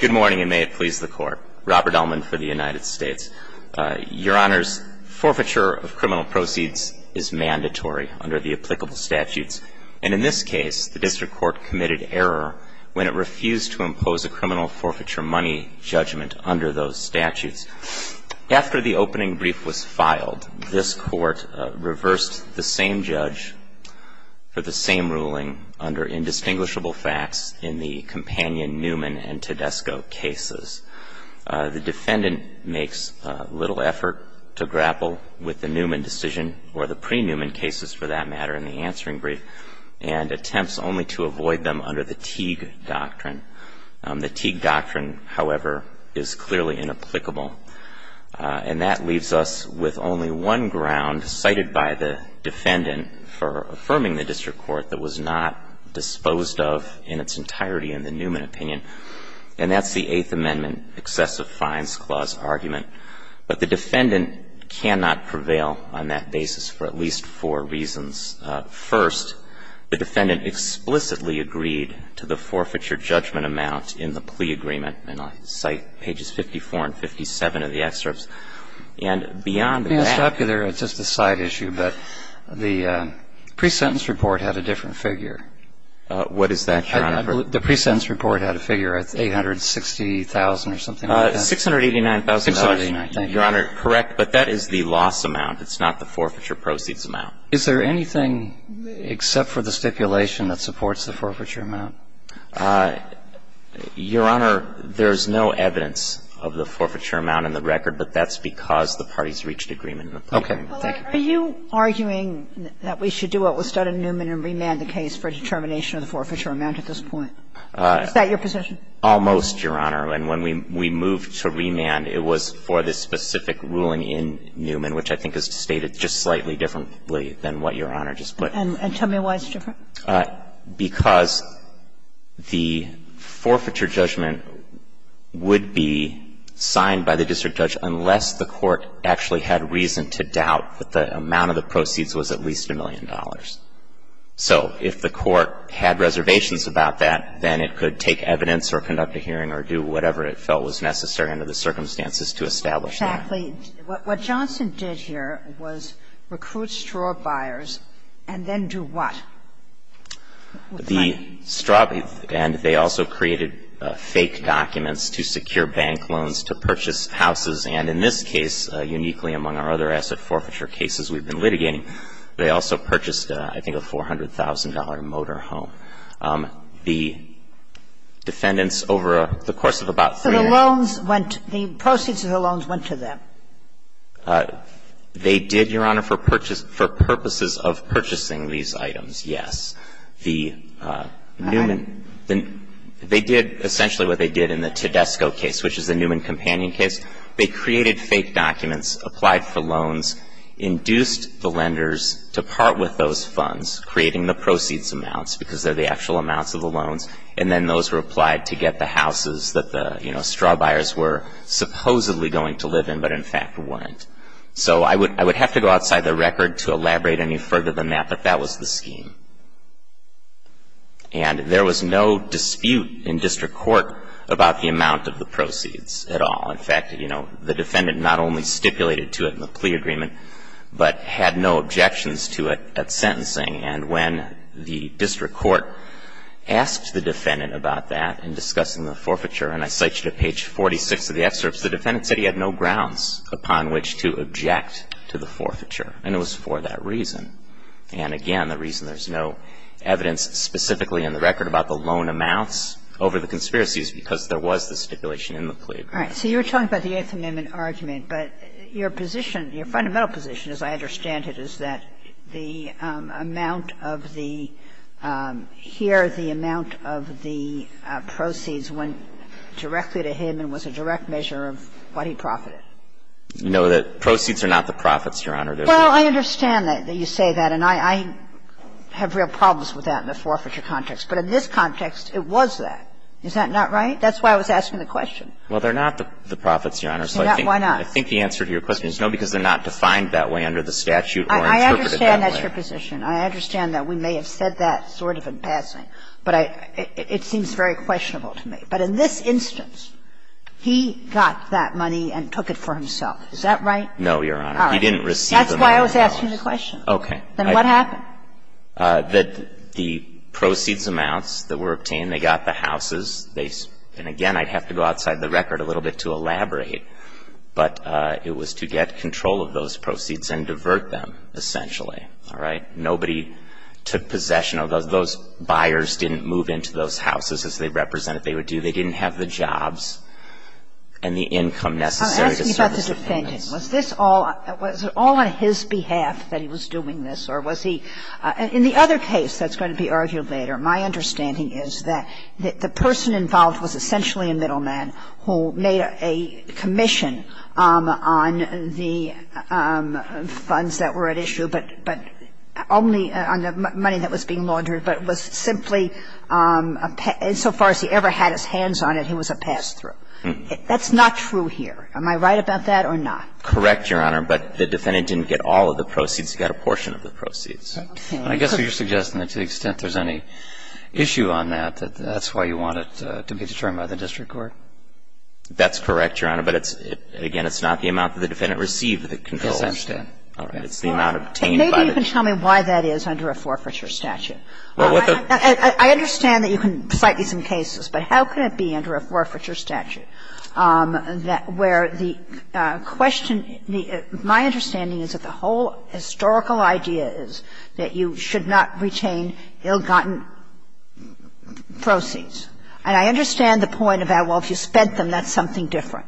Good morning, and may it please the Court. Robert Ellman for the United States. Your Honors, forfeiture of criminal proceeds is mandatory under the applicable statutes, and in this case, the District Court committed error when it refused to impose a criminal forfeiture money judgment under those statutes. After the opening brief was filed, this Court reversed the same judge for the same ruling under indistinguishable facts in the Companion Newman and Tedesco cases. The defendant makes little effort to grapple with the Newman decision or the pre-Newman cases, for that matter, in the answering brief, and attempts only to avoid them under the Teague Doctrine. The Teague Doctrine, however, is clearly inapplicable. And that leaves us with only one ground cited by the defendant for affirming the District Court that was not disposed of in its entirety in the Newman opinion, and that's the Eighth Amendment Excessive Fines Clause argument. But the defendant cannot prevail on that basis for at least four reasons. First, the defendant explicitly agreed to the forfeiture judgment amount in the plea agreement, and I'll cite pages 54 and 57 of the excerpts. And beyond that ---- Pre-sentence report had a different figure. What is that, Your Honor? The pre-sentence report had a figure. It's $860,000 or something like that. $689,000, Your Honor. Correct. But that is the loss amount. It's not the forfeiture proceeds amount. Is there anything except for the stipulation that supports the forfeiture amount? Your Honor, there's no evidence of the forfeiture amount in the record, but that's because the parties reached agreement in the plea agreement. Okay. Are you arguing that we should do what was done in Newman and remand the case for a determination of the forfeiture amount at this point? Is that your position? Almost, Your Honor. And when we moved to remand, it was for the specific ruling in Newman, which I think is stated just slightly differently than what Your Honor just put. And tell me why it's different. Because the forfeiture judgment would be signed by the district judge unless the court actually had reason to doubt that the amount of the proceeds was at least a million dollars. So if the court had reservations about that, then it could take evidence or conduct a hearing or do whatever it felt was necessary under the circumstances to establish that. Exactly. What Johnson did here was recruit straw buyers and then do what? The straw buyers, and they also created fake documents to secure bank loans, to purchase houses, and in this case, uniquely among our other asset forfeiture cases we've been litigating, they also purchased, I think, a $400,000 motor home. The defendants over the course of about three years ago So the loans went to the proceeds of the loans went to them? They did, Your Honor, for purposes of purchasing these items, yes. The Newman All right. They did essentially what they did in the Tedesco case, which is the Newman companion case. They created fake documents, applied for loans, induced the lenders to part with those funds, creating the proceeds amounts, because they're the actual amounts of the loans, and then those were applied to get the houses that the, you know, straw buyers were supposedly going to live in, but in fact weren't. So I would have to go outside the record to elaborate any further than that, but that was the scheme. And there was no dispute in district court about the amount of the proceeds at all. In fact, you know, the defendant not only stipulated to it in the plea agreement, but had no objections to it at sentencing. And when the district court asked the defendant about that in discussing the forfeiture, and I cite you to page 46 of the excerpts, the defendant said he had no grounds upon which to object to the forfeiture, and it was for that reason. And again, the reason there's no evidence specifically in the record about the loan amounts over the conspiracy is because there was the stipulation in the plea agreement. All right. So you're talking about the Eighth Amendment argument, but your position, your fundamental position, as I understand it, is that the amount of the here, the amount of the proceeds went directly to him and was a direct measure of what he profited. No, the proceeds are not the profits, Your Honor. Well, I understand that you say that, and I have real problems with that in the forfeiture context, but in this context, it was that. Is that not right? That's why I was asking the question. Well, they're not the profits, Your Honor. So I think the answer to your question is no, because they're not defined that way under the statute or interpreted that way. I understand that's your position. I understand that we may have said that sort of in passing, but it seems very questionable to me. But in this instance, he got that money and took it for himself. Is that right? No, Your Honor. He didn't receive the money. That's why I was asking the question. Okay. Then what happened? The proceeds amounts that were obtained, they got the houses. And again, I'd have to go outside the record a little bit to elaborate, but it was to get control of those proceeds and divert them, essentially. All right? Nobody took possession of those. Those buyers didn't move into those houses as they represented they would do. They didn't have the jobs and the income necessary to service the payments. I'm asking about the defendant. Was this all on his behalf that he was doing this, or was he – in the other case that's going to be argued later, my understanding is that the person involved was essentially a middleman who made a commission on the funds that were at issue, but only on the money that was being laundered, but was simply a – so far as he ever had his hands on it, he was a pass-through. That's not true here. Am I right about that or not? Correct, Your Honor. But the defendant didn't get all of the proceeds. He got a portion of the proceeds. Okay. I guess you're suggesting that to the extent there's any issue on that, that that's why you want it to be determined by the district court? That's correct, Your Honor, but it's – again, it's not the amount that the defendant received that the control was done. All right. It's the amount obtained by the district court. Maybe you can tell me why that is under a forfeiture statute. I understand that you can cite me some cases, but how could it be under a forfeiture statute where the question – my understanding is that the whole historical idea is that you should not retain ill-gotten proceeds. And I understand the point about, well, if you spent them, that's something different.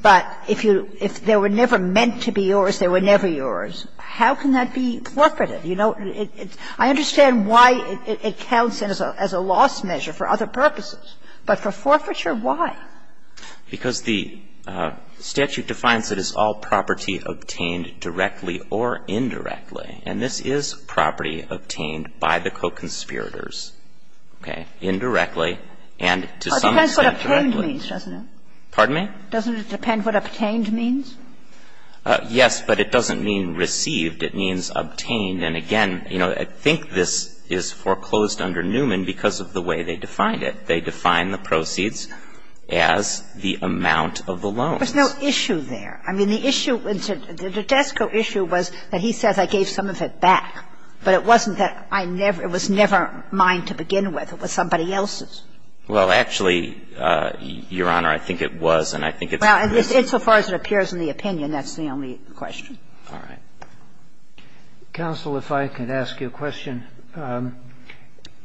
But if you – if they were never meant to be yours, they were never yours, how can that be forfeited? You know, it's – I understand why it counts as a loss measure for other purposes, but for forfeiture, why? Because the statute defines it as all property obtained directly or indirectly and this is property obtained by the co-conspirators, okay, indirectly and to some extent directly. It depends what obtained means, doesn't it? Pardon me? Doesn't it depend what obtained means? Yes, but it doesn't mean received. It means obtained. And again, you know, I think this is foreclosed under Newman because of the way they defined it. They defined the proceeds as the amount of the loans. There's no issue there. I mean, the issue – the Desko issue was that he says, I gave some of it back. But it wasn't that I never – it was never mine to begin with. It was somebody else's. Well, actually, Your Honor, I think it was and I think it's the only reason. Well, insofar as it appears in the opinion, that's the only question. All right. Counsel, if I could ask you a question.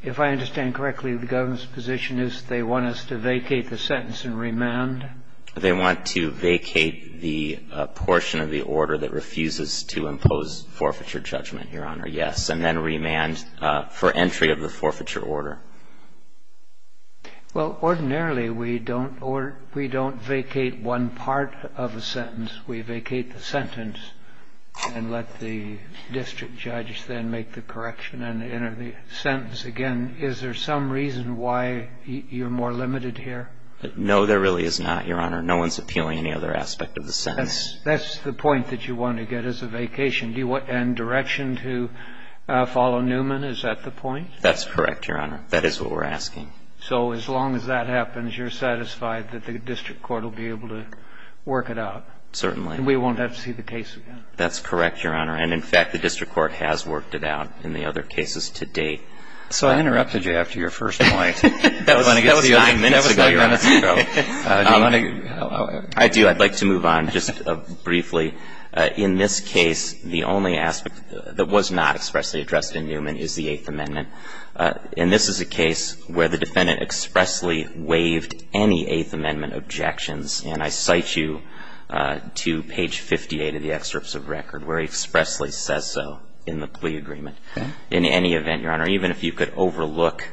If I understand correctly, the government's position is they want us to vacate the sentence and remand? They want to vacate the portion of the order that refuses to impose forfeiture judgment, Your Honor, yes, and then remand for entry of the forfeiture order. Well, ordinarily, we don't vacate one part of a sentence. We vacate the sentence and let the district judges then make the correction and enter the sentence again. Is there some reason why you're more limited here? No, there really is not, Your Honor. No one's appealing any other aspect of the sentence. That's the point that you want to get as a vacation. And direction to follow Newman, is that the point? That's correct, Your Honor. That is what we're asking. So as long as that happens, you're satisfied that the district court will be able to work it out? Certainly. And we won't have to see the case again? That's correct, Your Honor. And, in fact, the district court has worked it out in the other cases to date. So I interrupted you after your first point. That was nine minutes ago, Your Honor. I do. I'd like to move on just briefly. In this case, the only aspect that was not expressly addressed in Newman is the Eighth Amendment. And this is a case where the defendant expressly waived any Eighth Amendment objections. And I cite you to page 58 of the excerpts of record, where he expressly says so in the plea agreement. In any event, Your Honor, even if you could overlook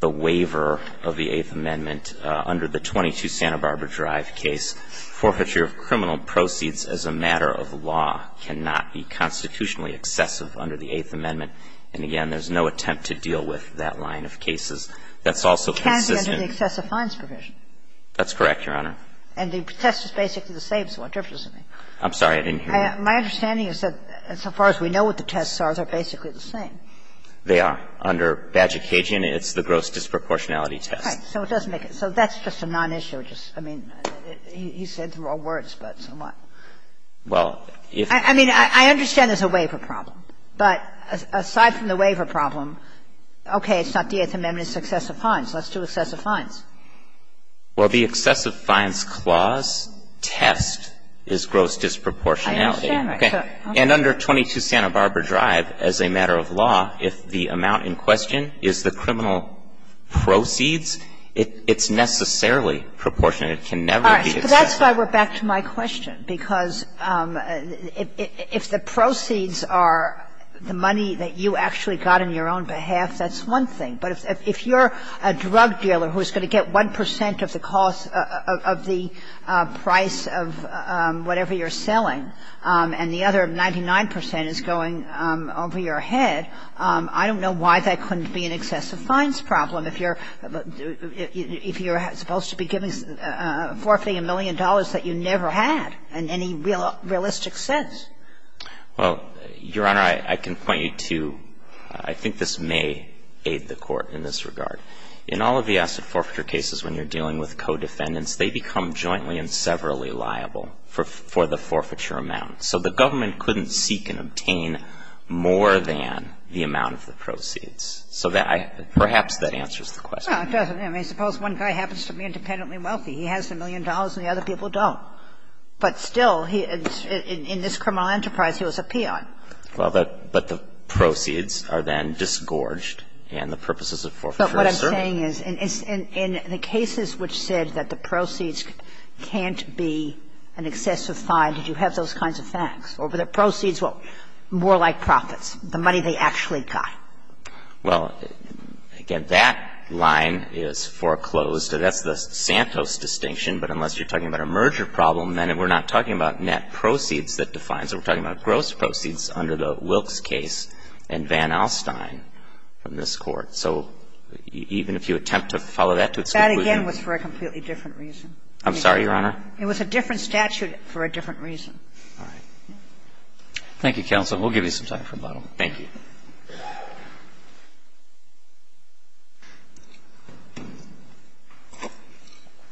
the waiver of the Eighth Amendment under the 22 Santa Barbara Drive case, forfeiture of criminal proceeds as a matter of law cannot be constitutionally excessive under the Eighth Amendment. And, again, there's no attempt to deal with that line of cases. That's also consistent. It can't be under the excessive fines provision. That's correct, Your Honor. And the test is basically the same, so what difference does it make? I'm sorry. I didn't hear you. My understanding is that so far as we know what the tests are, they're basically the same. They are. Under Badge of Cajun, it's the gross disproportionality test. Right. So it doesn't make it so that's just a non-issue, just, I mean, he said through all words, but so what? Well, if you're I mean, I understand there's a waiver problem. But aside from the waiver problem, okay, it's not the Eighth Amendment, it's excessive fines. Let's do excessive fines. Well, the excessive fines clause test is gross disproportionality. And under 22 Santa Barbara Drive, as a matter of law, if the amount in question is the criminal proceeds, it's necessarily proportionate. It can never be excessive. All right. But that's why we're back to my question, because if the proceeds are the money that you actually got on your own behalf, that's one thing. But if you're a drug dealer who's going to get 1 percent of the cost of the price of whatever you're selling, and the other 99 percent is going over your head, I don't know why that couldn't be an excessive fines problem if you're supposed to be giving forfeiting a million dollars that you never had in any realistic sense. Well, Your Honor, I can point you to – I think this may aid the Court in this regard. In all of the asset forfeiture cases when you're dealing with co-defendants, they become jointly and severally liable for the forfeiture amount. So the government couldn't seek and obtain more than the amount of the proceeds. So that I – perhaps that answers the question. Well, it doesn't. I mean, suppose one guy happens to be independently wealthy. He has a million dollars and the other people don't. But still, he – in this criminal enterprise, he was a peon. Well, but the proceeds are then disgorged, and the purposes of forfeiture are served. What I'm saying is, in the cases which said that the proceeds can't be an excessive fine, did you have those kinds of facts? Over the proceeds, well, more like profits, the money they actually got. Well, again, that line is foreclosed, and that's the Santos distinction. But unless you're talking about a merger problem, then we're not talking about net proceeds that defines it. We're talking about gross proceeds under the Wilkes case and Van Alstyne from this court. So even if you attempt to follow that to its conclusion – That, again, was for a completely different reason. I'm sorry, Your Honor? It was a different statute for a different reason. All right. Thank you, counsel. We'll give you some time for a bottle. Thank you.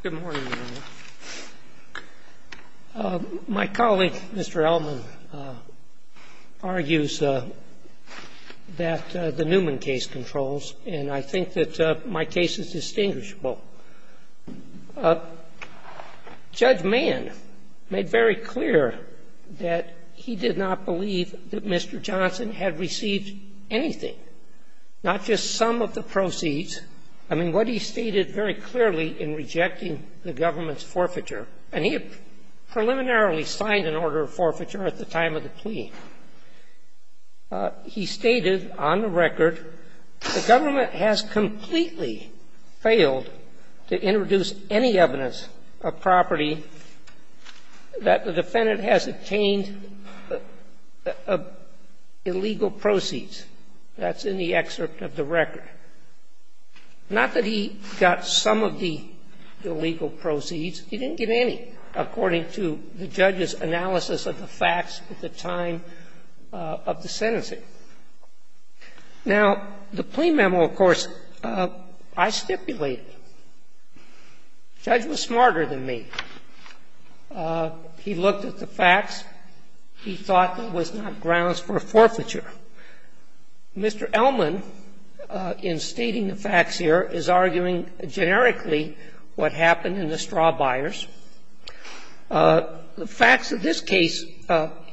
Good morning, Your Honor. My colleague, Mr. Elman, argues that the Newman case controls, and I think that my case is distinguishable. Judge Mann made very clear that he did not believe that Mr. Johnson had received anything, not just some of the proceeds. I mean, what he stated very clearly in rejecting the government's forfeiture – and he had preliminarily signed an order of forfeiture at the time of the plea. He stated on the record, the government has completely failed to introduce any evidence of property that the defendant has obtained illegal proceeds. And he did not get any, according to the judge's analysis of the facts at the time of the sentencing. Now, the plea memo, of course, I stipulated. The judge was smarter than me. He looked at the facts. He thought that it was not grounds for a forfeiture. And I think that the court, in stating the facts here, is arguing generically what happened in the straw buyers. The facts of this case,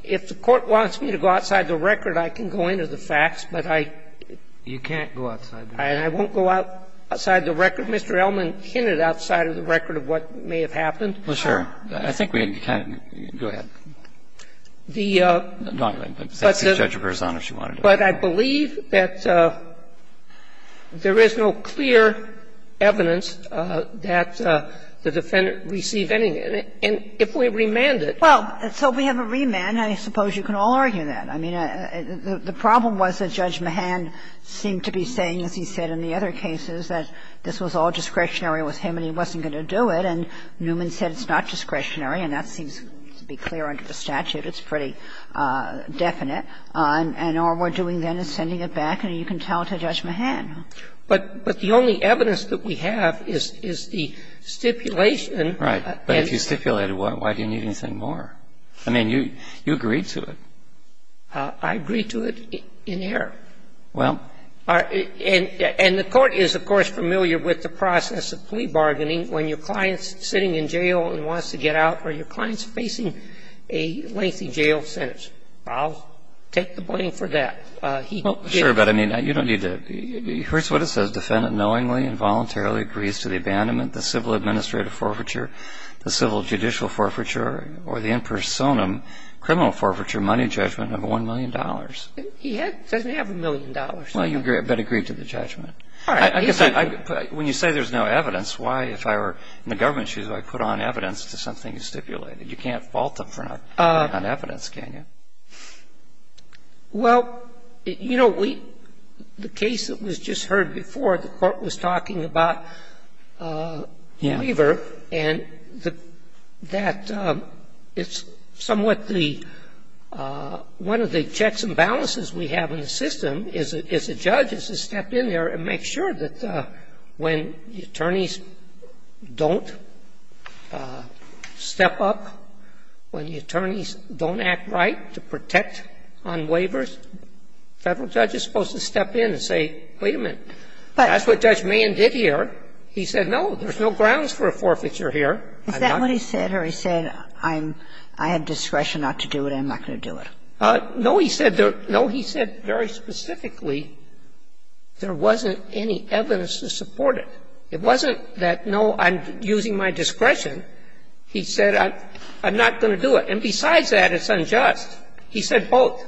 if the Court wants me to go outside the record, I can go into the facts, but I don't go outside the record. Mr. Elman hinted outside of the record of what may have happened. Well, sure. I think we can. Go ahead. But I believe that there is no clear evidence that the defendant received anything. And if we remand it. Well, so if we have a remand, I suppose you can all argue that. I mean, the problem was that Judge Mahan seemed to be saying, as he said in the other cases, that this was all discretionary with him and he wasn't going to do it. And Newman said it's not discretionary, and that seems to be clear under the statute. It's pretty definite. And all we're doing then is sending it back, and you can tell to Judge Mahan. But the only evidence that we have is the stipulation. Right. But if you stipulated one, why do you need anything more? I mean, you agreed to it. I agreed to it in error. Well. And the Court is, of course, familiar with the process of plea bargaining when your client's sitting in jail and wants to get out, or your client's facing a lengthy jail sentence. I'll take the blame for that. He did. Well, sure, but I mean, you don't need to. Here's what it says. Defendant knowingly and voluntarily agrees to the abandonment, the civil administrative forfeiture, the civil judicial forfeiture, or the in personam criminal forfeiture money judgment of $1 million. Well, you better agree to the judgment. All right. When you say there's no evidence, why, if I were in the government's shoes, would I put on evidence to something you stipulated? You can't fault them for not having evidence, can you? Well, you know, the case that was just heard before, the Court was talking about waiver, and that it's somewhat the one of the checks and balances we have in the system is a judge has to step in there and make sure that when the attorneys don't step up, when the attorneys don't act right to protect on waivers, the Federal judge is supposed to step in and say, wait a minute, that's what Judge Mann did here. He said, no, there's no grounds for a forfeiture here. Is that what he said? Or he said, I have discretion not to do it, I'm not going to do it? No, he said very specifically there wasn't any evidence to support it. It wasn't that, no, I'm using my discretion. He said, I'm not going to do it. And besides that, it's unjust. He said both.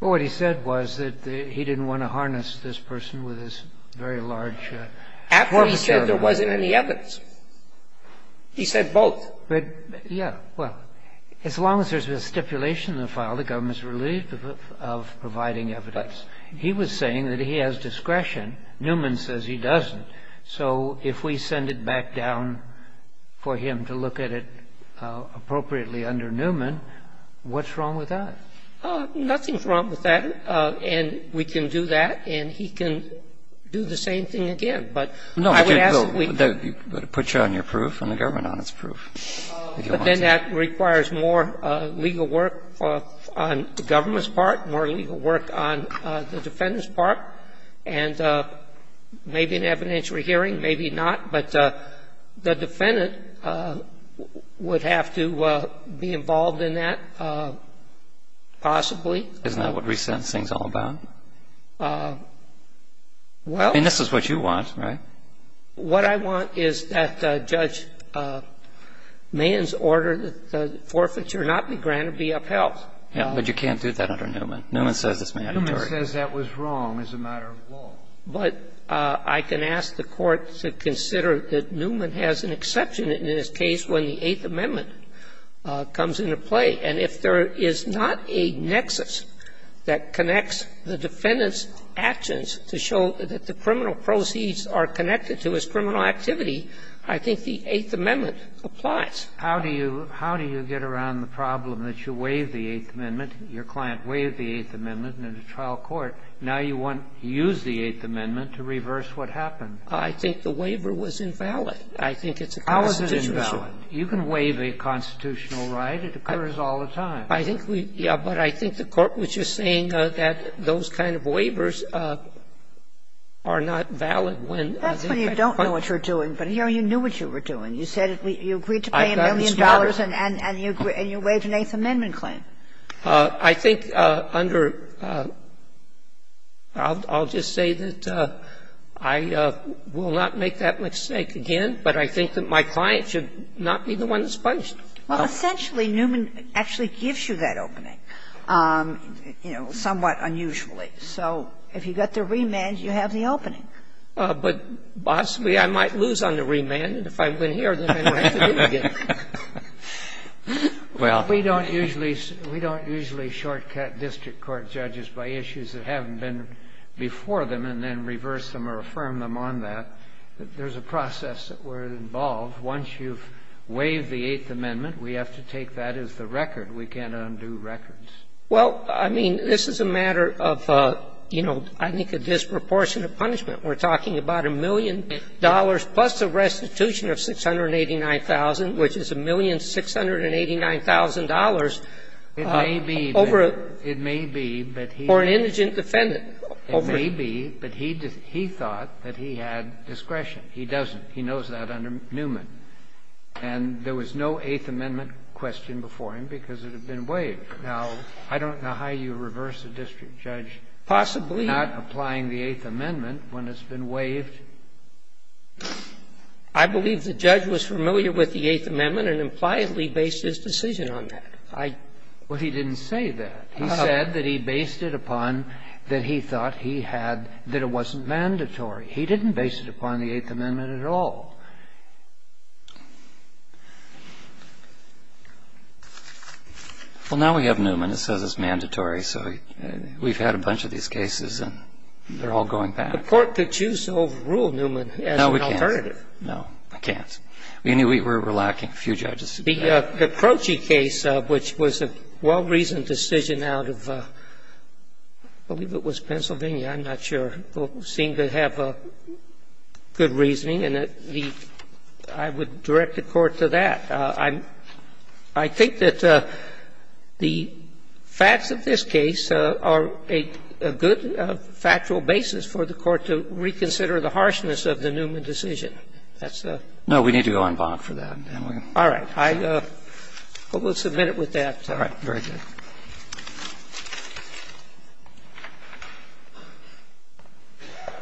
Well, what he said was that he didn't want to harness this person with this very large forfeiture. After he said there wasn't any evidence. He said both. But, yeah, well, as long as there's a stipulation in the file, the government is relieved of providing evidence. He was saying that he has discretion. Newman says he doesn't. So if we send it back down for him to look at it appropriately under Newman, what's wrong with that? Nothing's wrong with that. And we can do that. And he can do the same thing again. But I would ask that we put you on your proof and the government on its proof. But then that requires more legal work on the government's part, more legal work on the defendant's part. And maybe an evidentiary hearing, maybe not. But the defendant would have to be involved in that, possibly. Isn't that what resentencing is all about? Well. I mean, this is what you want, right? What I want is that Judge Mann's order that the forfeiture not be granted be upheld. Yeah. But you can't do that under Newman. Newman says it's mandatory. Newman says that was wrong as a matter of law. But I can ask the Court to consider that Newman has an exception in his case when the Eighth Amendment comes into play. And if there is not a nexus that connects the defendant's actions to show that the defendant is connected to his criminal activity, I think the Eighth Amendment applies. How do you get around the problem that you waive the Eighth Amendment? Your client waived the Eighth Amendment in a trial court. Now you want to use the Eighth Amendment to reverse what happened. I think the waiver was invalid. I think it's a constitutional issue. How is it invalid? You can waive a constitutional right. It occurs all the time. I think we – yeah. But I think the Court was just saying that those kind of waivers are not valid when the defendant is connected to his criminal activity. And that's when you don't know what you're doing. But here you knew what you were doing. You said you agreed to pay a million dollars and you waived an Eighth Amendment claim. I think under – I'll just say that I will not make that mistake again, but I think that my client should not be the one that's punished. Well, essentially, Newman actually gives you that opening, you know, somewhat unusually. So if you got the remand, you have the opening. But possibly I might lose on the remand, and if I win here, then I don't have to do it again. Well, we don't usually – we don't usually shortcut district court judges by issues that haven't been before them and then reverse them or affirm them on that. There's a process that we're involved. Once you've waived the Eighth Amendment, we have to take that as the record. We can't undo records. Well, I mean, this is a matter of, you know, I think a disproportionate punishment. We're talking about a million dollars plus a restitution of $689,000, which is $1,689,000 over a – It may be that – it may be that he – Or an indigent defendant. It may be that he thought that he had discretion. He doesn't. He knows that under Newman. And there was no Eighth Amendment question before him because it had been waived. Now, I don't know how you reverse a district judge not applying the Eighth Amendment when it's been waived. I believe the judge was familiar with the Eighth Amendment and impliedly based his decision on that. I – well, he didn't say that. He said that he based it upon that he thought he had – that it wasn't mandatory. He didn't base it upon the Eighth Amendment at all. Well, now we have Newman. It says it's mandatory. So we've had a bunch of these cases, and they're all going back. The court could choose to overrule Newman as an alternative. No, we can't. No, it can't. We're lacking a few judges today. The Croci case, which was a well-reasoned decision out of, I believe it was Pennsylvania. I'm not sure. It seemed to have a good reasoning, and the – I would direct the Court to that. I think that the facts of this case are a good factual basis for the Court to reconsider the harshness of the Newman decision. That's a – No, we need to go on bond for that. All right. I will submit it with that. All right. Very good.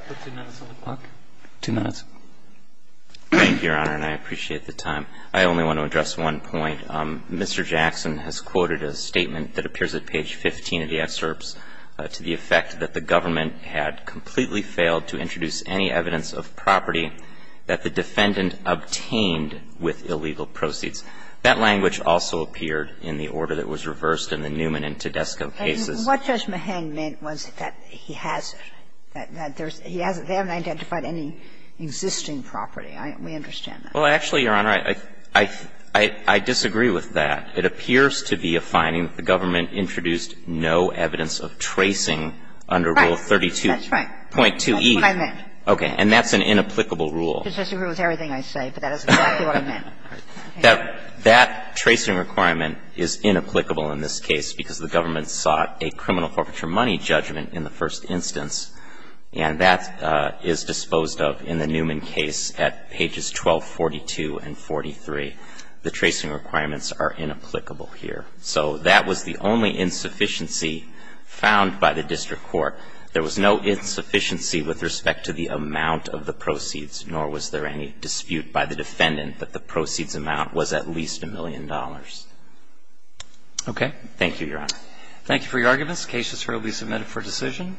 Put two minutes on the clock. Two minutes. Thank you, Your Honor, and I appreciate the time. I only want to address one point. Mr. Jackson has quoted a statement that appears at page 15 of the excerpts to the effect that the government had completely failed to introduce any evidence of property that the defendant obtained with illegal proceeds. That language also appeared in the order that was reversed in the first case. And I would argue that there is no evidence of property that's not been identified in the Newman and Tedesco cases. And what Judge Mahang meant was that he has it, that there's – he hasn't – they haven't identified any existing property. We understand that. Well, actually, Your Honor, I disagree with that. It appears to be a finding that the government introduced no evidence of tracing under rule 32.2E. Right. That's right. That's what I meant. Okay. And that's an inapplicable rule. I disagree with everything I say, but that is exactly what I meant. That – that tracing requirement is inapplicable in this case because the government sought a criminal forfeiture money judgment in the first instance. And that is disposed of in the Newman case at pages 1242 and 43. The tracing requirements are inapplicable here. So that was the only insufficiency found by the district court. There was no insufficiency with respect to the amount of the proceeds, nor was there any dispute by the defendant that the proceeds amount was at least a million dollars. Okay. Thank you, Your Honor. Thank you for your arguments. The case is currently submitted for decision.